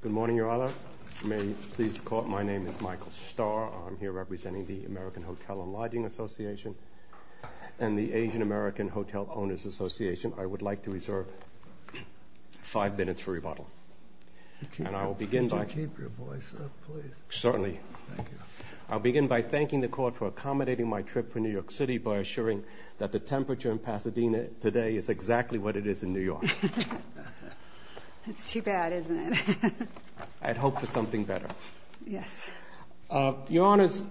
Good morning, Your Honor. May you please call my name is Michael Starr. I'm here representing the American Hotel & Lodging Association and the Asian American Hotel Owners Association. I would like to reserve five minutes for rebuttal. And I will begin by... Can you keep your voice up, please? Certainly. I'll begin by thanking the court for accommodating my trip for New York City by assuring that the temperature in Pasadena today is exactly what it is in New York. It's too bad, isn't it? I'd hope for something better. Yes. Your Honors,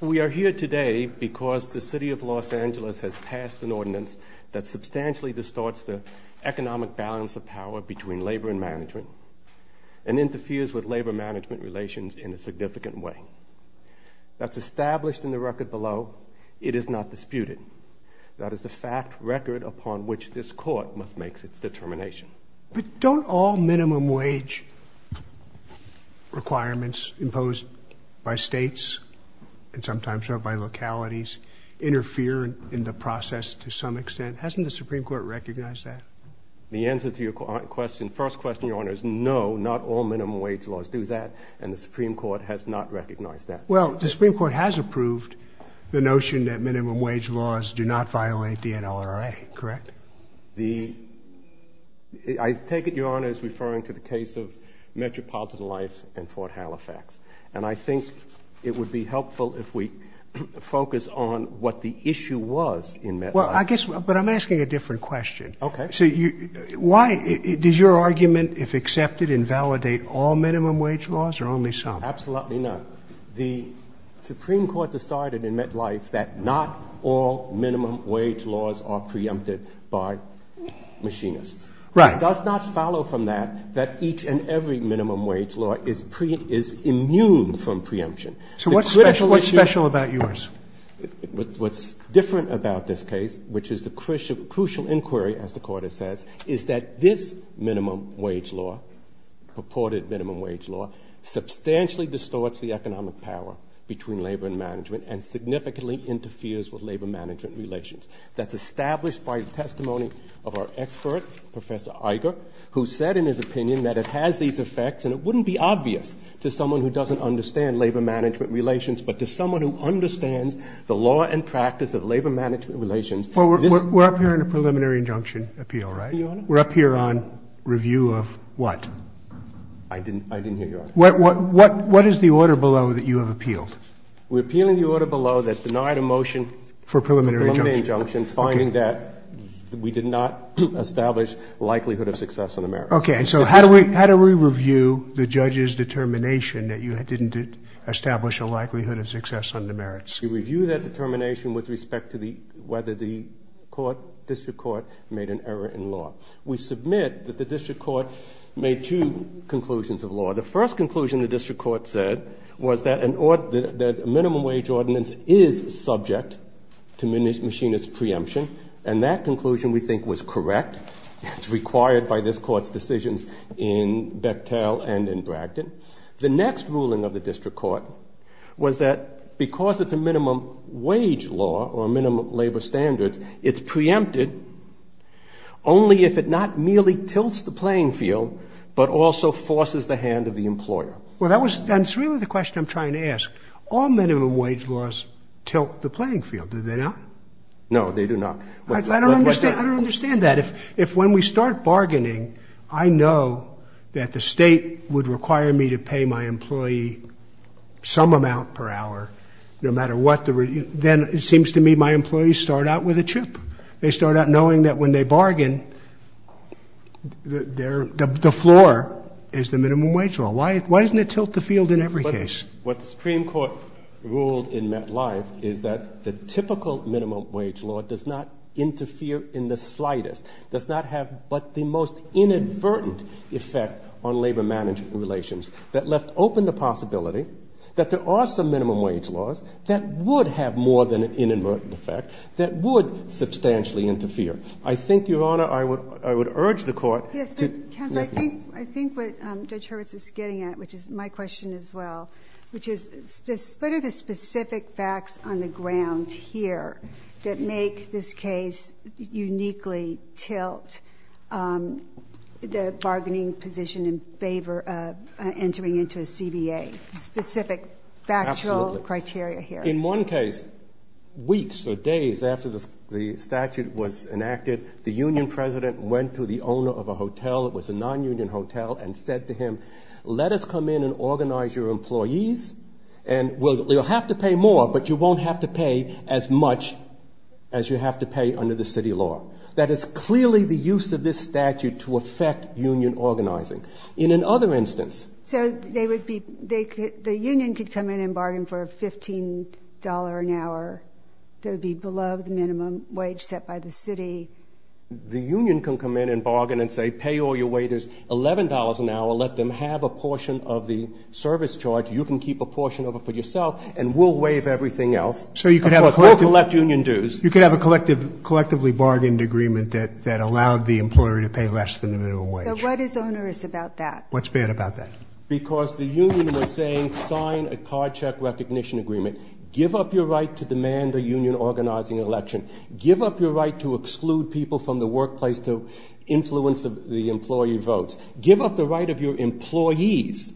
we are here today because the City of Los Angeles has passed an ordinance that substantially distorts the economic balance of power between labor and management and interferes with labor-management relations in a significant way. That's established in the record below. It is not disputed. That is the fact record upon which this court must make its determination. But don't all minimum wage requirements imposed by states and sometimes by localities interfere in the process to some extent? Hasn't the Supreme Court recognized that? The answer to your question, first question, Your Honor, is no, not all minimum wage laws do that and the Supreme Court has not recognized that. Well, the Supreme Court has approved the I take it, Your Honor, is referring to the case of Metropolitan Life and Fort Halifax. And I think it would be helpful if we focus on what the issue was in MetLife. Well, I guess, but I'm asking a different question. Okay. So you, why, does your argument, if accepted, invalidate all minimum wage laws or only some? Absolutely not. The Supreme Court decided in MetLife that not all minimum wage laws are machinists. Right. It does not follow from that that each and every minimum wage law is pre, is immune from preemption. So what's special, what's special about yours? What's different about this case, which is the crucial, crucial inquiry, as the Court has said, is that this minimum wage law, purported minimum wage law, substantially distorts the economic power between labor and management and significantly interferes with labor management relations. That's established by the testimony of our expert, Professor Iger, who said in his opinion that it has these effects and it wouldn't be obvious to someone who doesn't understand labor management relations, but to someone who understands the law and practice of labor management relations. Well, we're up here in a preliminary injunction appeal, right? Your Honor? We're up here on review of what? I didn't, I didn't hear your argument. What, what, what, what is the order below that you have appealed? We're appealing the order below that denied a motion for preliminary injunction, finding that we did not establish likelihood of success on the merits. Okay. And so how do we, how do we review the judge's determination that you didn't establish a likelihood of success on the merits? We review that determination with respect to the, whether the court, district court made an error in law. We submit that the district court made two conclusions of law. The first conclusion the district court said was that an order, that minimum wage ordinance is subject to machinist preemption. And that conclusion we think was correct. It's required by this court's decisions in Bechtel and in Bragdon. The next ruling of the district court was that because it's a minimum wage law or minimum labor standards, it's preempted only if it not merely tilts the playing field, but also forces the hand of the employer. Well, that was, that's really the question I'm playing field. Did they not? No, they do not. I don't understand. I don't understand that. If, if when we start bargaining, I know that the state would require me to pay my employee some amount per hour, no matter what the, then it seems to me my employees start out with a chip. They start out knowing that when they bargain, the floor is the minimum wage law. Why, why doesn't it tilt the typical minimum wage law does not interfere in the slightest, does not have but the most inadvertent effect on labor management relations that left open the possibility that there are some minimum wage laws that would have more than an inadvertent effect, that would substantially interfere. I think, Your Honor, I would, I would urge the court to... Yes, but counsel, I think, I think what Judge Hurwitz is getting at, which is my question as well, which is what are the specific facts on the ground here that make this case uniquely tilt the bargaining position in favor of entering into a CBA? Specific factual criteria here. In one case, weeks or days after the statute was enacted, the union president went to the owner of a hotel, it was a non-union hotel, and said to employees, and we'll, you'll have to pay more, but you won't have to pay as much as you have to pay under the city law. That is clearly the use of this statute to affect union organizing. In another instance... So they would be, they could, the union could come in and bargain for $15 an hour. There would be below the minimum wage set by the city. The union can come in and bargain and say, pay all a portion of the service charge, you can keep a portion of it for yourself, and we'll waive everything else. So you could have... Of course, we'll collect union dues. You could have a collective, collectively bargained agreement that, that allowed the employer to pay less than the minimum wage. So what is onerous about that? What's bad about that? Because the union is saying, sign a card check recognition agreement. Give up your right to demand a union organizing election. Give up your right to exclude people from the workplace to influence the employee votes. Give up the right of your employees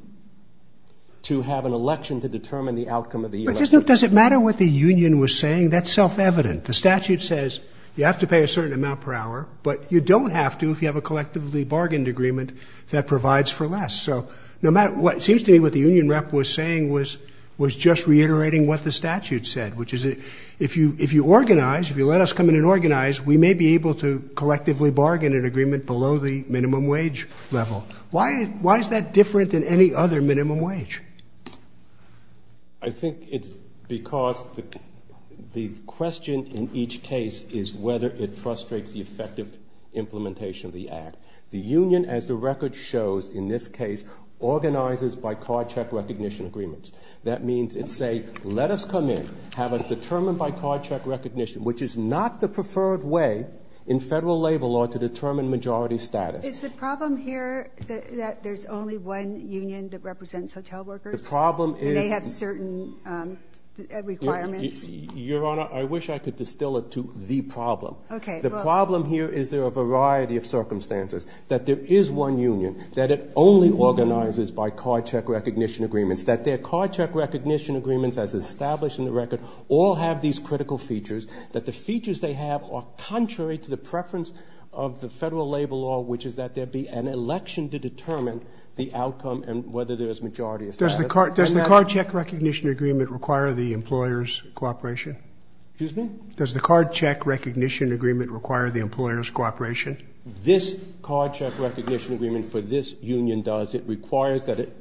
to have an election to determine the outcome of the election. But does it matter what the union was saying? That's self-evident. The statute says you have to pay a certain amount per hour, but you don't have to if you have a collectively bargained agreement that provides for less. So no matter what, it seems to me what the union rep was saying was, was just reiterating what the statute said, which is if you, if you organize, if you let us come in and organize, we may be able to collectively bargain an agreement below the minimum wage level. Why, why is that different than any other minimum wage? I think it's because the question in each case is whether it frustrates the effective implementation of the act. The union, as the record shows in this case, organizes by card check recognition agreements. That means it's say, let us come in, have us determined by card check recognition, which is not the preferred way in federal labor law to determine majority status. Is the problem here that there's only one union that represents hotel workers? The problem is... And they have certain requirements? Your Honor, I wish I could distill it to the problem. Okay. The problem here is there are a variety of circumstances. That there is one union, that it only organizes by card check recognition agreements, that their card check recognition agreements as critical features, that the features they have are contrary to the preference of the federal labor law, which is that there be an election to determine the outcome and whether there is majority status. Does the card, does the card check recognition agreement require the employer's cooperation? Excuse me? Does the card check recognition agreement require the employer's cooperation? This card check recognition agreement for this union does. It requires that it,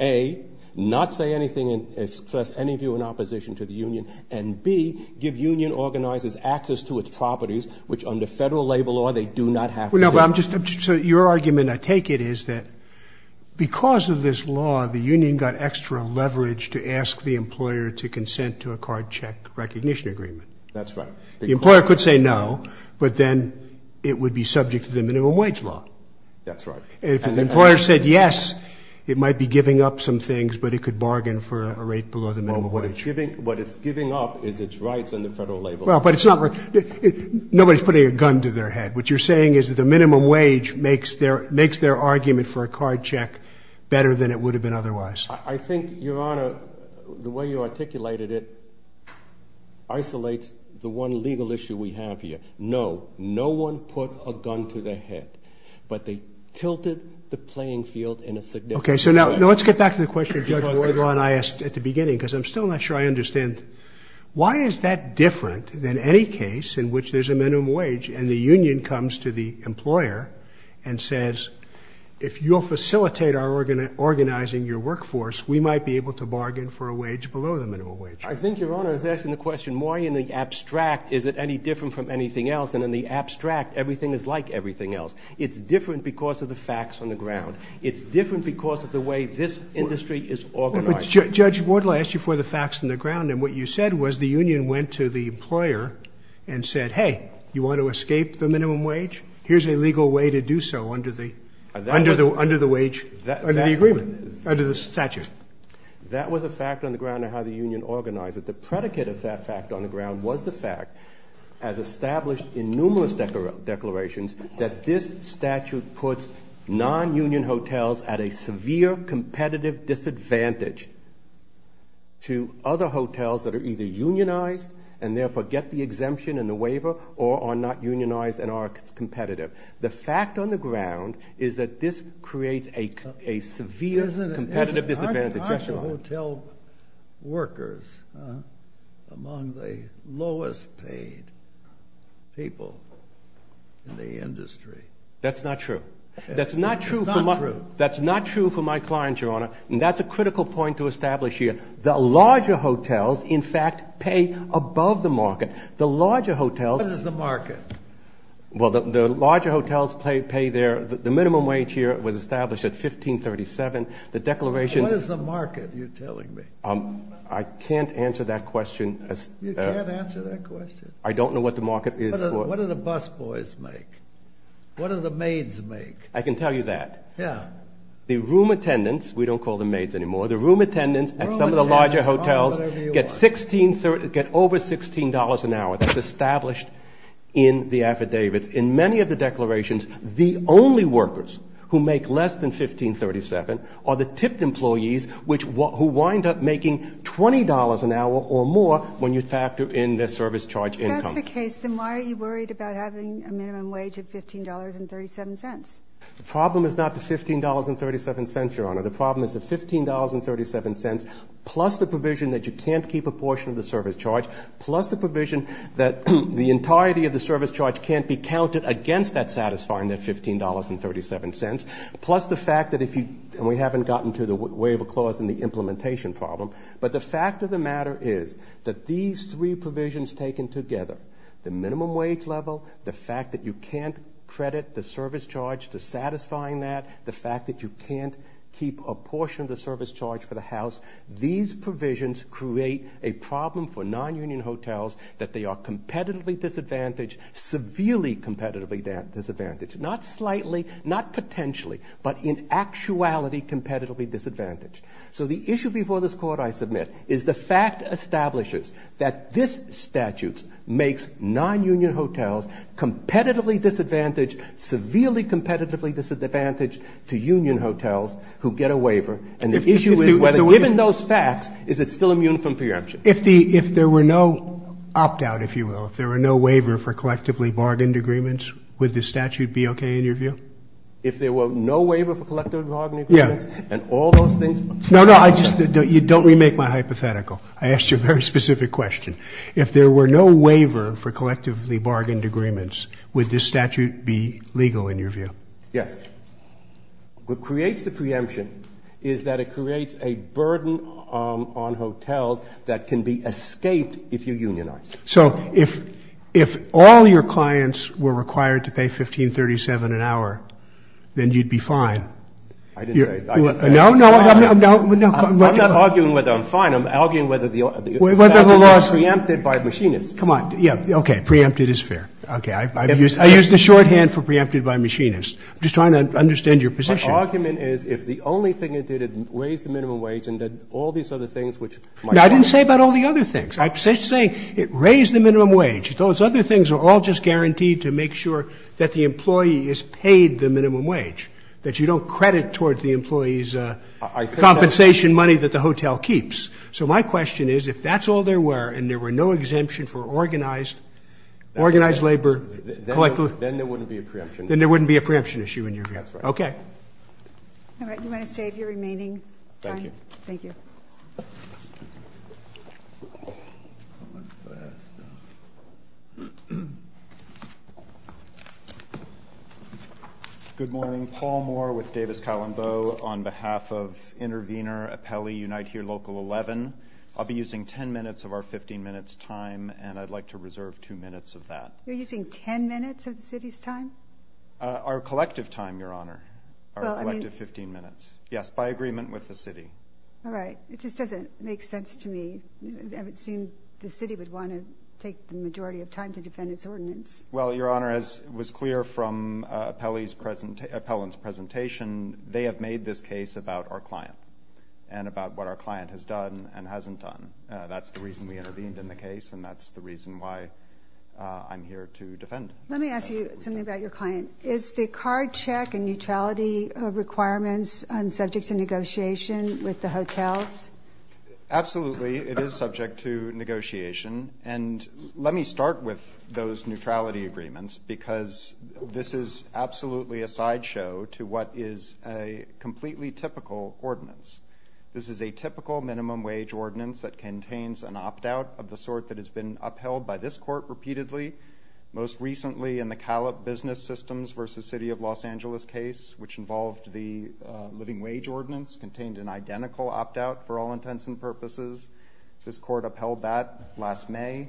A, not say anything and express any view in opposition to the union, and B, give union organizers access to its properties, which under federal labor law, they do not have to. No, but I'm just, so your argument, I take it, is that because of this law, the union got extra leverage to ask the employer to consent to a card check recognition agreement. That's right. The employer could say no, but then it would be subject to the minimum wage law. That's right. And if the employer said yes, it might be giving up some things, but it could bargain for a rate below the minimum wage. What it's giving up is its rights under federal labor law. Well, but it's not, nobody's putting a gun to their head. What you're saying is that the minimum wage makes their, makes their argument for a card check better than it would have been otherwise. I think, Your Honor, the way you articulated it isolates the one legal issue we have here. No, no one put a gun to their head, but they tilted the playing field in a significant way. Okay, so now let's get back to the question Judge Wardlaw and I asked at the beginning, because I'm still not sure I understand. Why is that different than any case in which there's a minimum wage and the union comes to the employer and says, if you'll facilitate our organizing your workforce, we might be able to bargain for a wage below the minimum wage? I think, Your Honor, it's asking the question, why in the abstract is it any different from anything else? And in the abstract, everything is like everything else. It's different because of the facts on the ground. It's different because of the way this industry is organized. Judge Wardlaw, I asked you for the facts on the ground and what you said was the union went to the employer and said, hey, you want to escape the minimum wage? Here's a legal way to do so under the, under the, under the wage, under the agreement, under the statute. That was a fact on the ground of how the union organized it. The predicate of that fact on the ground was the fact, as established in numerous declarations, that this statute puts non-union hotels at a severe competitive disadvantage to other hotels that are either unionized and therefore get the exemption and the waiver or are not unionized and are competitive. The fact on the ground is that this creates a severe competitive disadvantage. Aren't the hotel workers among the lowest paid people in the industry? That's not true. That's not true for my, that's not true for my clients, Your Honor, and that's a critical point to establish here. The larger hotels, in fact, pay above the market. The larger hotels. What is the market? Well, the larger hotels pay their, the minimum wage here was established at $15.37. The declaration... What is the market, you're telling me? I can't answer that question. You can't answer that question? I don't know what the market is for... What do the bus boys make? What do the maids make? I can tell you that. Yeah. The room attendants, we don't call them maids anymore, the room attendants at some of the larger hotels get $16, get over $16 an hour. That's established in the affidavits. In many of the declarations, the only workers who make less than $15.37 are the tipped employees, which, who wind up making $20 an hour or more when you factor in their service charge income. If that's the case, then why are you worried about having a minimum wage of $15.37? The problem is not the $15.37, Your Honor. The problem is the $15.37 plus the provision that you can't keep a portion of the service charge, plus the provision that the entirety of the service charge can't be counted against that satisfying that $15.37, plus the fact that if you, and we haven't gotten to the waiver clause in the implementation problem, but the fact of the matter is that these three provisions taken together, the minimum wage level, the fact that you can't credit the service charge to satisfying that, the fact that you can't keep a portion of the service charge for the house, these provisions create a problem for non-union hotels that they are competitively disadvantaged, severely competitively disadvantaged. Not slightly, not potentially, but in actuality, competitively disadvantaged. So the issue before this Court, I submit, is the fact establishes that this statute makes non-union hotels competitively disadvantaged, severely competitively disadvantaged to union hotels who get a waiver, and the issue is whether, given those facts, is it still immune from preemption. If the, if there were no opt-out, if you will, if there were no waiver for collectively bargained agreements, would this statute be okay in your view? If there were no waiver for collectively bargained agreements, and all those things. No, no, I just don't, you don't remake my hypothetical. I asked you a very specific question. If there were no waiver for collectively bargained agreements, would this statute be legal in your view? Yes. What creates the preemption is that it creates a burden on hotels that can be escaped if you unionize. So if, if all your clients were required to pay 1537 an hour, then you'd be fine. I didn't say, I didn't say that. No, no, no, no, no. I'm not arguing whether I'm fine. I'm arguing whether the statute is preempted by machinists. Come on. Yeah. Okay. Preempted is fair. Okay. I've used, I used the shorthand for preempted by machinists. I'm just trying to understand your position. My argument is if the only thing it did, it raised the minimum wage and then all these other things, which might help. I didn't say about all the other things. I'm just saying it raised the minimum wage. Those other things are all just guaranteed to make sure that the employee is paid the minimum wage, that you don't credit towards the employee's compensation money that the hotel keeps. So my question is, if that's all there were, and there were no exemption for organized, organized labor, then there wouldn't be a preemption. Then there wouldn't be a preemption issue in your view. Okay. All right. You want to save your remaining time? Thank you. Good morning, Paul Moore with Davis Calambo on behalf of intervener appellee Unite Here Local 11. I'll be using 10 minutes of our 15 minutes time, and I'd like to reserve two minutes of that. You're using 10 minutes of the city's time? Our collective time, Your Honor, our collective 15 minutes. Yes. By agreement with the city. All right. It just doesn't make sense to me. It would seem the city would want to take the majority of time to defend its ordinance. Well, Your Honor, as was clear from appellant's presentation, they have made this case about our client and about what our client has done and hasn't done. That's the reason we intervened in the case. And that's the reason why I'm here to defend. Let me ask you something about your client. Is the card check and neutrality requirements subject to negotiation with the hotels? Absolutely. It is subject to negotiation. And let me start with those neutrality agreements, because this is absolutely a sideshow to what is a completely typical ordinance. This is a typical minimum wage ordinance that contains an opt-out of the sort that has been upheld by this court repeatedly. Most recently in the Calip business systems versus city of Los Angeles case, which involved the living wage ordinance contained an identical opt-out for all intents and purposes. This court upheld that last May.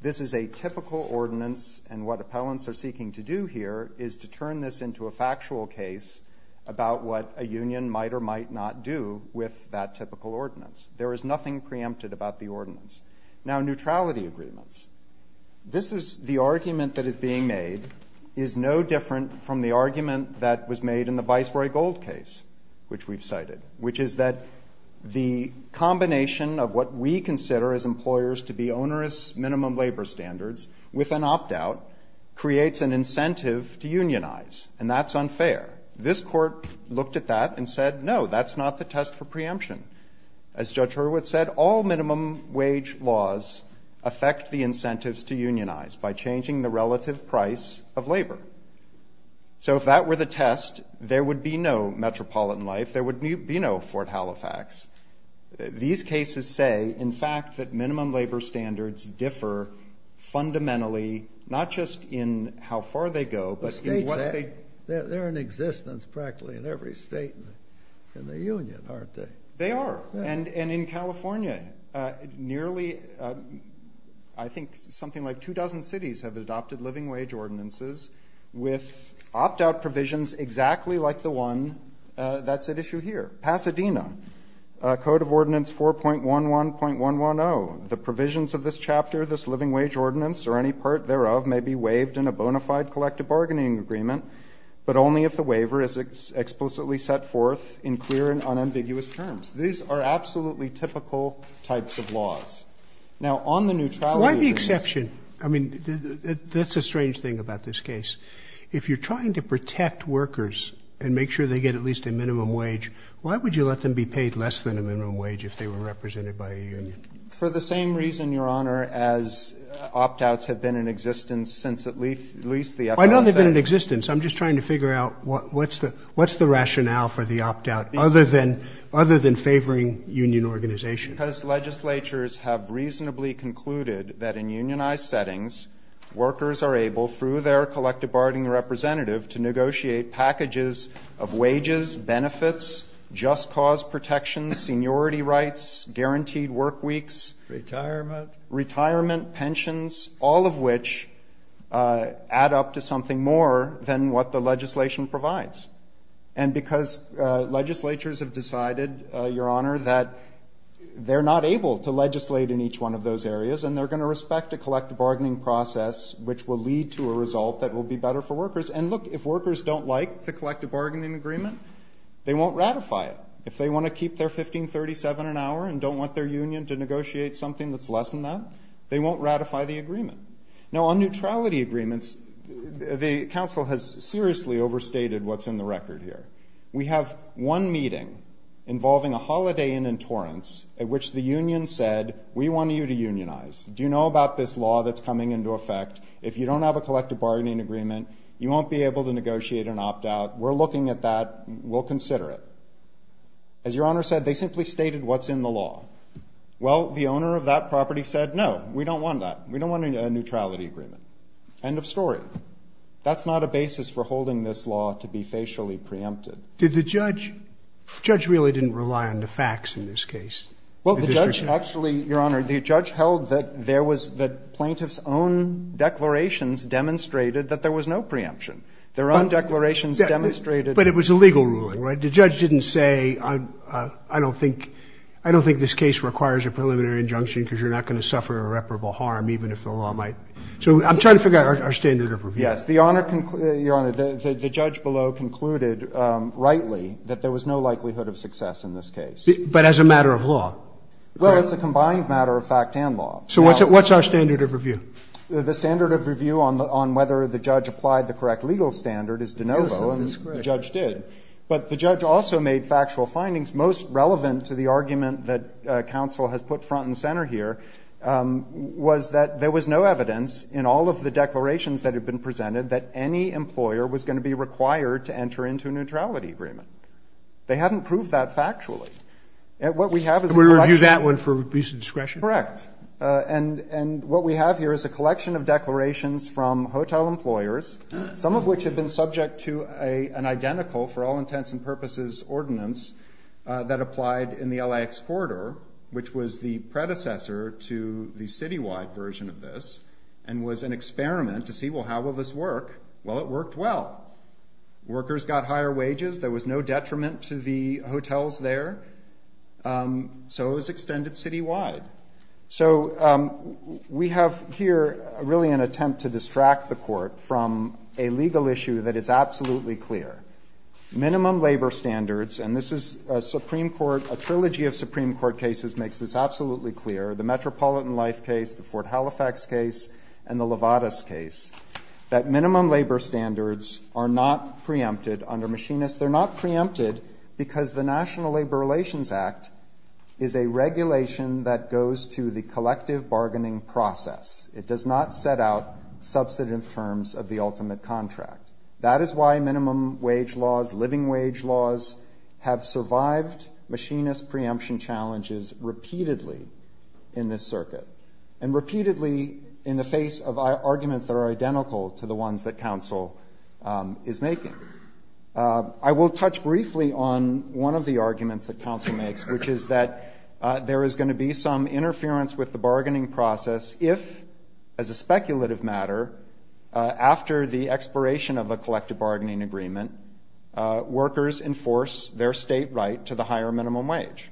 This is a typical ordinance. And what appellants are seeking to do here is to turn this into a factual case about what a union might or might not do with that typical ordinance. There is nothing preempted about the ordinance. Now neutrality agreements. This is the argument that is being made is no different from the argument that was made in the viceroy gold case, which we've cited, which is that the combination of what we consider as employers to be onerous minimum labor standards with an opt-out creates an incentive to unionize. And that's unfair. This court looked at that and said, no, that's not the test for preemption. As judge Hurwitz said, all minimum wage laws affect the incentives to unionize by changing the relative price of labor. So if that were the test, there would be no metropolitan life. There would be no Fort Halifax. These cases say, in fact, that minimum labor standards differ fundamentally, not just in how far they go, but they're in existence practically in every state in the union, aren't they? They are. And, and in California, uh, nearly, uh, I think something like two dozen cities have adopted living wage ordinances with opt-out provisions, exactly like the one, uh, that's at issue here. Pasadena, uh, code of ordinance 4.11.110. The provisions of this chapter, this living wage ordinance or any part thereof may be waived in a bona fide collective bargaining agreement, but only if the waiver is explicitly set forth in clear and unambiguous terms. These are absolutely typical types of laws. Now on the neutrality. Why the exception? I mean, that's a strange thing about this case. If you're trying to protect workers and make sure they get at least a minimum wage, why would you let them be paid less than a minimum wage if they were represented by a union? For the same reason, Your Honor, as opt-outs have been in existence Why don't they've been in existence? I'm just trying to figure out what, what's the, what's the rationale for the opt-out other than, other than favoring union organization? Because legislatures have reasonably concluded that in unionized settings, workers are able through their collective bargaining representative to negotiate packages of wages, benefits, just cause protections, seniority rights, guaranteed work weeks, retirement, pensions, all of which, uh, add up to something more than what the legislation provides. And because, uh, legislatures have decided, uh, Your Honor, that they're not able to legislate in each one of those areas, and they're going to respect a collective bargaining process, which will lead to a result that will be better for workers. And look, if workers don't like the collective bargaining agreement, they won't ratify it. If they want to keep their 1537 an hour and don't want their union to negotiate something that's less than that, they won't ratify the agreement. Now on neutrality agreements, the council has seriously overstated what's in the record here. We have one meeting involving a holiday in Torrance at which the union said, we want you to unionize. Do you know about this law that's coming into effect? If you don't have a collective bargaining agreement, you won't be able to negotiate an opt-out. We're looking at that. We'll consider it. As Your Honor said, they simply stated what's in the law. Well, the owner of that property said, no, we don't want that. We don't want a neutrality agreement. End of story. That's not a basis for holding this law to be facially preempted. Did the judge, judge really didn't rely on the facts in this case? Well, the judge actually, Your Honor, the judge held that there was, that plaintiff's own declarations demonstrated that there was no preemption. Their own declarations demonstrated. But it was a legal ruling, right? The judge didn't say, I don't think, I don't think this case requires a preliminary injunction because you're not going to suffer irreparable harm, even if the law might. So I'm trying to figure out our standard of review. Yes. The owner, Your Honor, the judge below concluded rightly that there was no likelihood of success in this case. But as a matter of law? Well, it's a combined matter of fact and law. So what's our standard of review? The standard of review on whether the judge applied the correct legal standard is de novo, and the judge did. But the judge also made factual findings most relevant to the argument that counsel has put front and center here, was that there was no evidence in all of the declarations that had been presented that any employer was going to be required to enter into a neutrality agreement. They hadn't proved that factually. And what we have is a collection. And we review that one for abuse of discretion? Correct. And what we have here is a collection of declarations from hotel employers, some of which had been subject to an identical for all intents and purposes ordinance that applied in the LAX corridor, which was the predecessor to the citywide version of this, and was an experiment to see, well, how will this work? Well, it worked well. Workers got higher wages. There was no detriment to the hotels there. So it was extended citywide. So we have here really an attempt to distract the court from a legal issue that is absolutely clear. Minimum labor standards, and this is a Supreme Court, a trilogy of Supreme Court cases makes this absolutely clear, the Metropolitan Life case, the Fort Halifax case, and the Lovatus case, that minimum labor standards are not preempted under machinists. They're not preempted because the National Labor Relations Act is a regulation that goes to the collective bargaining process. It does not set out substantive terms of the ultimate contract. That is why minimum wage laws, living wage laws have survived machinist preemption challenges repeatedly in this circuit, and repeatedly in the face of arguments that are identical to the ones that counsel is making. I will touch briefly on one of the arguments that counsel makes, which is that there is going to be some interference with the bargaining process if, as a speculative matter, after the expiration of a collective bargaining agreement, workers enforce their state right to the higher minimum wage.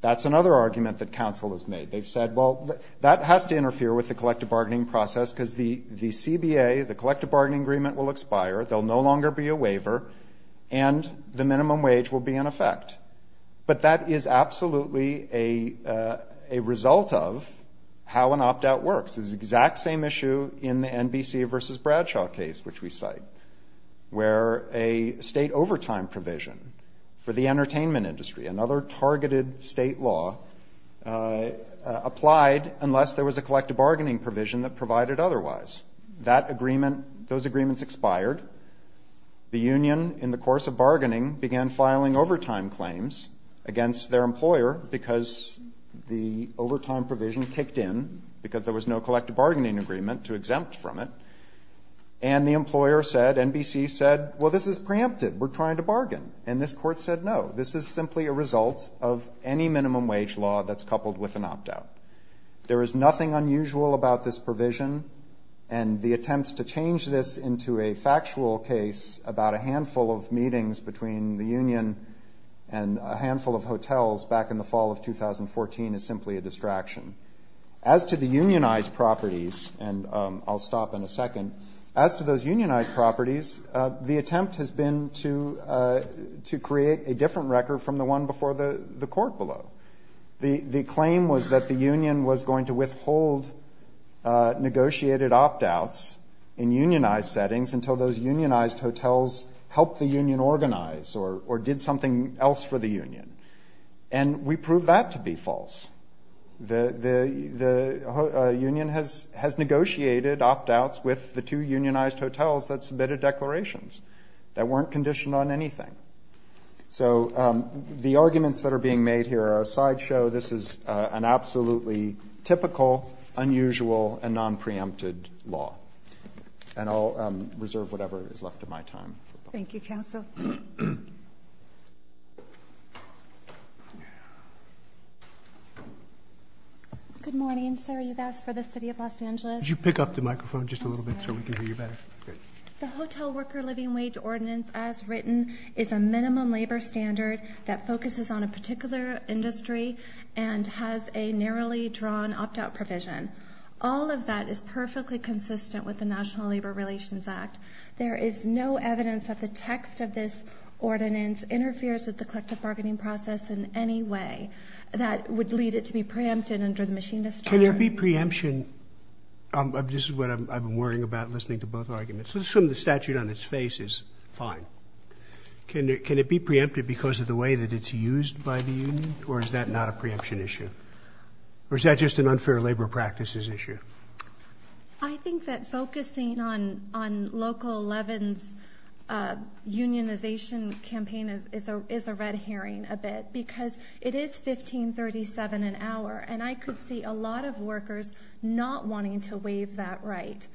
That's another argument that counsel has made. They've said, well, that has to interfere with the collective bargaining process because the CBA, the collective bargaining agreement, will expire, there'll no longer be a waiver, and the minimum wage will be in effect. But that is absolutely a result of how an opt-out works. It's the exact same issue in the NBC versus Bradshaw case, which we cite, where a state overtime provision for the entertainment industry, another targeted state law, applied unless there was a collective bargaining provision that provided otherwise. That agreement, those agreements expired. The union, in the course of bargaining, began filing overtime claims against their collective bargaining agreement to exempt from it. And the employer said, NBC said, well, this is preemptive, we're trying to bargain. And this court said, no, this is simply a result of any minimum wage law that's coupled with an opt-out. There is nothing unusual about this provision, and the attempts to change this into a factual case about a handful of meetings between the union and a handful of hotels back in the fall of 2014 is simply a distraction. As to the unionized properties, and I'll stop in a second, as to those unionized properties, the attempt has been to create a different record from the one before the court below. The claim was that the union was going to withhold negotiated opt-outs in unionized settings until those unionized hotels helped the union organize or did something else for the union. And we proved that to be false. The union has negotiated opt-outs with the two unionized hotels that submitted declarations that weren't conditioned on anything. So the arguments that are being made here are a sideshow. This is an absolutely typical, unusual, and non-preempted law. And I'll reserve whatever is left of my time. Thank you, counsel. Good morning, sir. You've asked for the city of Los Angeles. Could you pick up the microphone just a little bit so we can hear you better? The Hotel Worker Living Wage Ordinance, as written, is a minimum labor standard that focuses on a particular industry and has a narrowly drawn opt-out provision. All of that is perfectly consistent with the National Labor Relations Act. There is no evidence that the text of this ordinance interferes with the collective bargaining process in any way that would lead it to be preempted under the Machinist Charter. Can there be preemption? This is what I've been worrying about listening to both arguments. Let's assume the statute on its face is fine. Can it be preempted because of the way that it's used by the union or is that not a preemption issue? Or is that just an unfair labor practices issue? I think that focusing on Local 11's unionization campaign is a red herring a bit because it is 1537 an hour and I could see a lot of workers not wanting to waive that right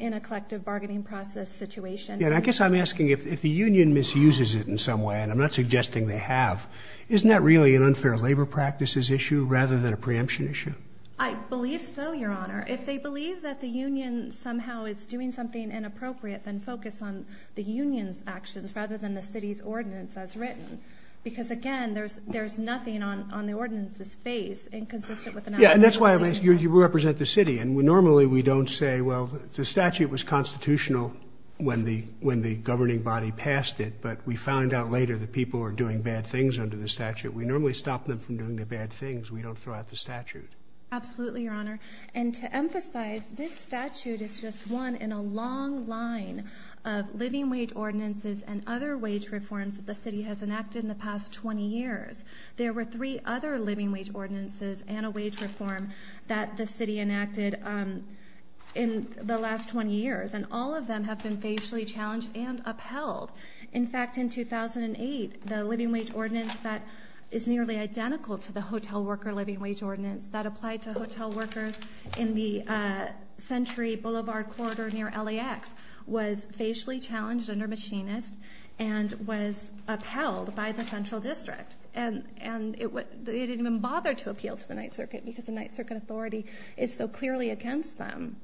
in a collective bargaining process situation. I guess I'm asking if the union misuses it in some way and I'm not suggesting they have. Isn't that really an unfair labor practices issue rather than a preemption issue? I believe so, Your Honor. If they believe that the union somehow is doing something inappropriate, then focus on the union's actions rather than the city's ordinance as written. Because, again, there's nothing on the ordinance's face inconsistent with the statute. And that's why you represent the city. And normally we don't say, well, the statute was constitutional when the governing body passed it. But we found out later that people are doing bad things under the statute. We normally stop them from doing the bad things. We don't throw out the statute. Absolutely, Your Honor. And to emphasize, this statute is just one in a long line of living wage ordinances and other wage reforms that the city has enacted in the past 20 years. There were three other living wage ordinances and a wage reform that the city enacted in the last 20 years. And all of them have been facially challenged and upheld. In fact, in 2008, the living wage ordinance that is nearly identical to the hotel worker living wage ordinance that applied to hotel workers in the Century Boulevard corridor near LAX was facially challenged under Machinist and was upheld by the Central District. And they didn't even bother to appeal to the Ninth Circuit because the Ninth Circuit authority is so clearly against them.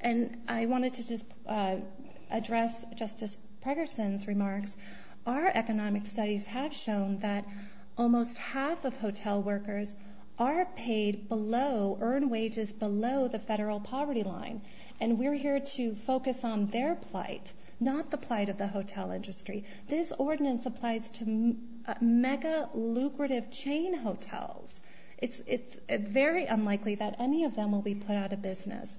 And I wanted to just address Justice Pregerson's remarks. Our economic studies have shown that almost half of hotel workers are paid below, earn wages below the federal poverty line. And we're here to focus on their plight, not the plight of the hotel industry. This ordinance applies to mega lucrative chain hotels. It's very unlikely that any of them will be put out of business.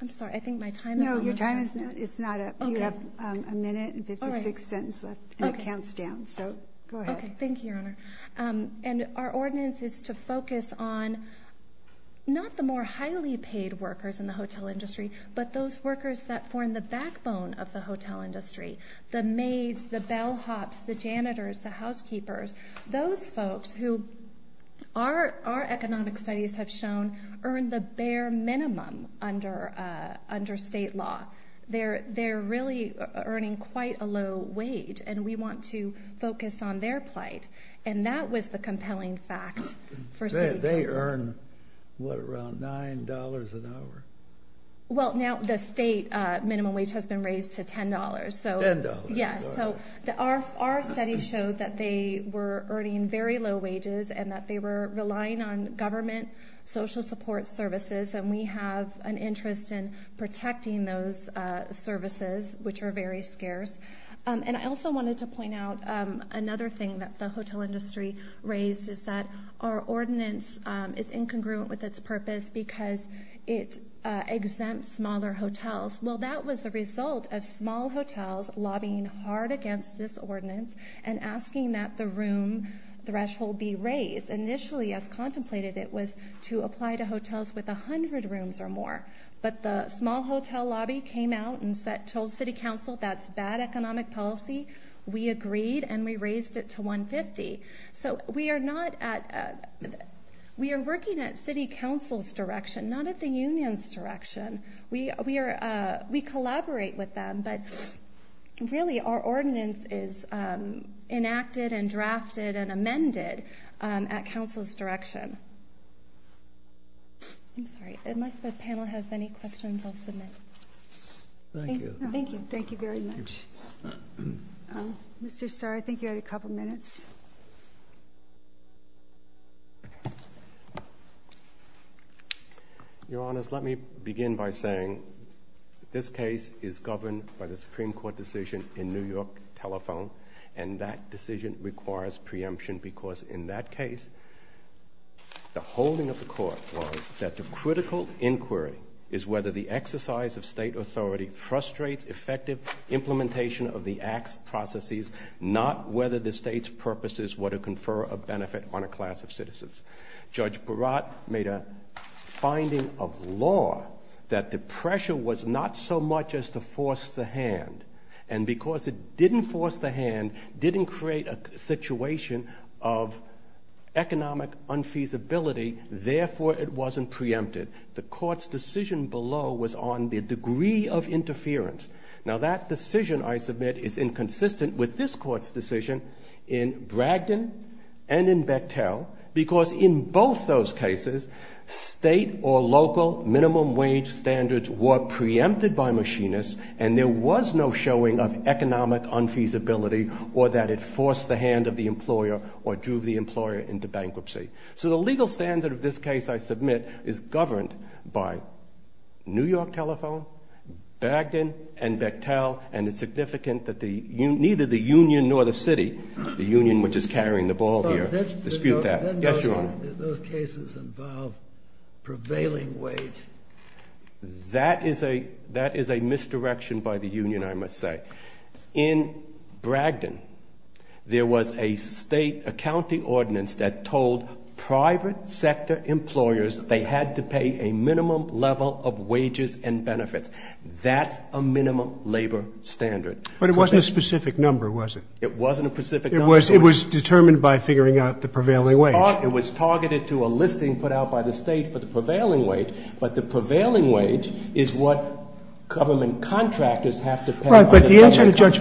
I'm sorry, I think my time is up. No, your time is not up. It's not up. You have a minute and 56 seconds left and it counts down. So go ahead. Thank you, Your Honor. And our ordinance is to focus on not the more highly paid workers in the hotel industry, but those workers that form the backbone of the hotel industry. The maids, the bellhops, the janitors, the housekeepers, those folks who our economic studies have shown earn the bare minimum under state law. They're really earning quite a low wage and we want to focus on their plight. And that was the compelling fact for City Council. They earn, what, around $9 an hour? Well, now the state minimum wage has been raised to $10. $10. Yes. So our studies showed that they were earning very low wages and that they were relying on government social support services. And we have an interest in protecting those services, which are very scarce. And I also wanted to point out another thing that the hotel industry raised is that our ordinance is incongruent with its purpose because it exempts smaller hotels. Well, that was the result of small hotels lobbying hard against this ordinance and asking that the room threshold be raised. Initially, as contemplated, it was to apply to hotels with 100 rooms or more. But the small hotel lobby came out and told City Council that's bad economic policy. We agreed and we raised it to 150. So we are working at City Council's direction, not at the union's direction. We collaborate with them, but really our ordinance is enacted and drafted and amended at Council's direction. I'm sorry, unless the panel has any questions, I'll submit. Thank you. Thank you. Thank you very much. Mr. Starr, I think you had a couple of minutes. Your Honor, let me begin by saying this case is governed by the Supreme Court decision in that case. The holding of the court was that the critical inquiry is whether the exercise of state authority frustrates effective implementation of the acts processes, not whether the state's purposes were to confer a benefit on a class of citizens. Judge Baratt made a finding of law that the pressure was not so much as to force the economic unfeasibility, therefore it wasn't preempted. The court's decision below was on the degree of interference. Now, that decision, I submit, is inconsistent with this court's decision in Bragdon and in Bechtel, because in both those cases, state or local minimum wage standards were preempted by machinists and there was no showing of economic unfeasibility or that it would force the employer into bankruptcy. So the legal standard of this case, I submit, is governed by New York Telephone, Bragdon and Bechtel, and it's significant that neither the union nor the city, the union which is carrying the ball here, dispute that. Does that mean that those cases involve prevailing wage? That is a misdirection by the union, I must say. In Bragdon, there was a state, a county ordinance that told private sector employers they had to pay a minimum level of wages and benefits. That's a minimum labor standard. But it wasn't a specific number, was it? It wasn't a specific number. It was determined by figuring out the prevailing wage. It was targeted to a listing put out by the state for the prevailing wage, but the prevailing wage is what government contractors have to pay. But the answer to Judge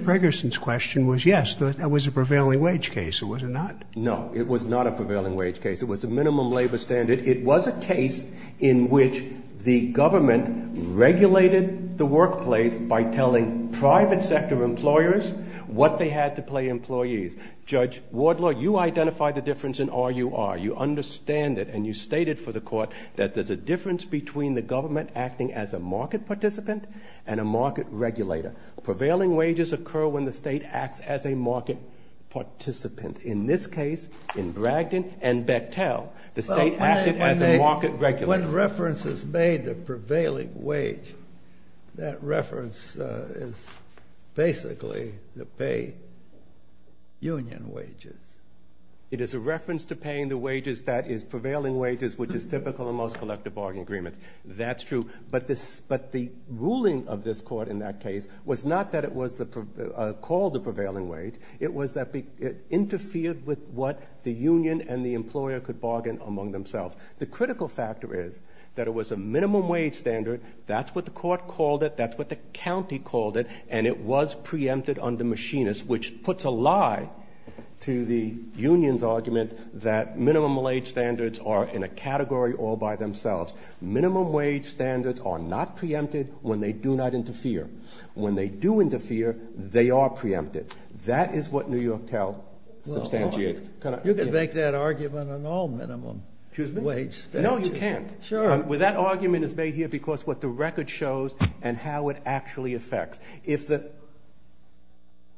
Pregerson's question was yes, that was a prevailing wage case, or was it not? No, it was not a prevailing wage case. It was a minimum labor standard. It was a case in which the government regulated the workplace by telling private sector employers what they had to pay employees. Judge Wardlaw, you identified the difference in RUR. You understand it and you stated for the Court that there's a difference between the government acting as a market participant and a market regulator. Prevailing wages occur when the state acts as a market participant. In this case, in Bragdon and Bechtel, the state acted as a market regulator. When reference is made to prevailing wage, that reference is basically to pay union wages. It is a reference to paying the wages that is prevailing wages, which is typical of most collective bargain agreements. That's true. But the ruling of this Court in that case was not that it was called a prevailing wage, it was that it interfered with what the union and the employer could bargain among themselves. The critical factor is that it was a minimum wage standard. That's what the Court called it. That's what the county called it. And it was preempted under machinists, which puts a lie to the union's argument that minimum wage standards are in a category all by themselves. Minimum wage standards are not preempted when they do not interfere. When they do interfere, they are preempted. That is what New York tells Substantiate. You can make that argument on all minimum wage standards. No, you can't. Well, that argument is made here because what the record shows and how it actually affects.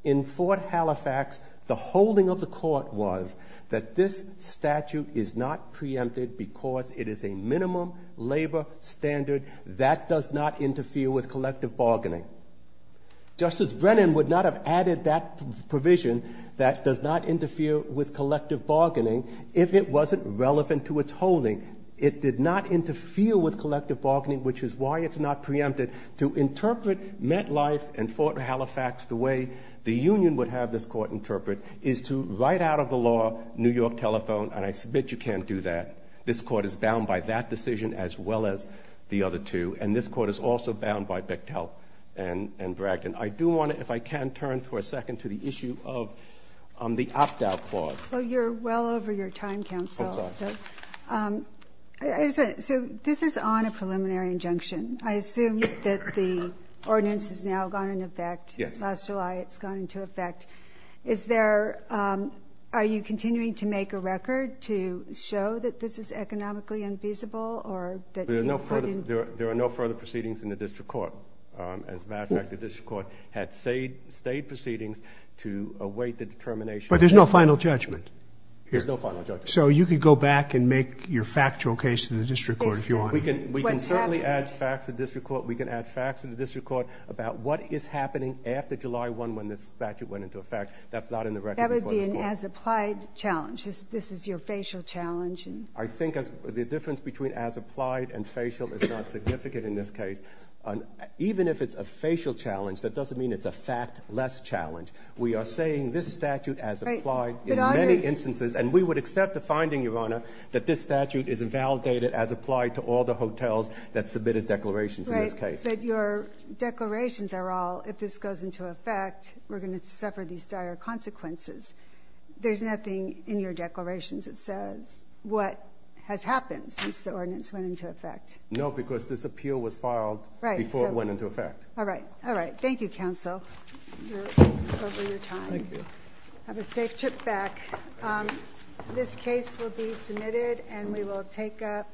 In Fort Halifax, the holding of the Court was that this statute is not preempted because it is a minimum labor standard that does not interfere with collective bargaining. Justice Brennan would not have added that provision that does not interfere with collective bargaining if it wasn't relevant to its holding. It did not interfere with collective bargaining, which is why it's not preempted. To interpret MetLife and Fort Halifax the way the union would have this Court interpret is to, right out of the law, New York telephone. And I submit you can't do that. This Court is bound by that decision as well as the other two. And this Court is also bound by Bechtel and Bragdon. I do want to, if I can, turn for a second to the issue of the Aptow Clause. Well, you're well over your time, counsel. So this is on a preliminary injunction. I assume that the ordinance has now gone into effect. Last July, it's gone into effect. Is there, are you continuing to make a record to show that this is economically unfeasible or that you've put in? There are no further proceedings in the district court. As a matter of fact, the district court had stayed proceedings to await the determination. But there's no final judgment. There's no final judgment. So you could go back and make your factual case to the district court if you want. We can certainly add facts to the district court. We can add facts to the district court about what is happening after July one, when this statute went into effect. That's not in the record. That would be an as-applied challenge. This is your facial challenge. I think the difference between as-applied and facial is not significant in this case. Even if it's a facial challenge, that doesn't mean it's a fact-less challenge. We are saying this statute as-applied in many instances, and we would accept the finding, Your Honor, that this statute is invalidated as applied to all the hotels that submitted declarations in this case. But your declarations are all, if this goes into effect, we're going to suffer these dire consequences. There's nothing in your declarations that says what has happened since the ordinance went into effect. No, because this appeal was filed before it went into effect. All right. All right. Thank you, counsel, for your time. Have a safe trip back. This case will be submitted and we will take up.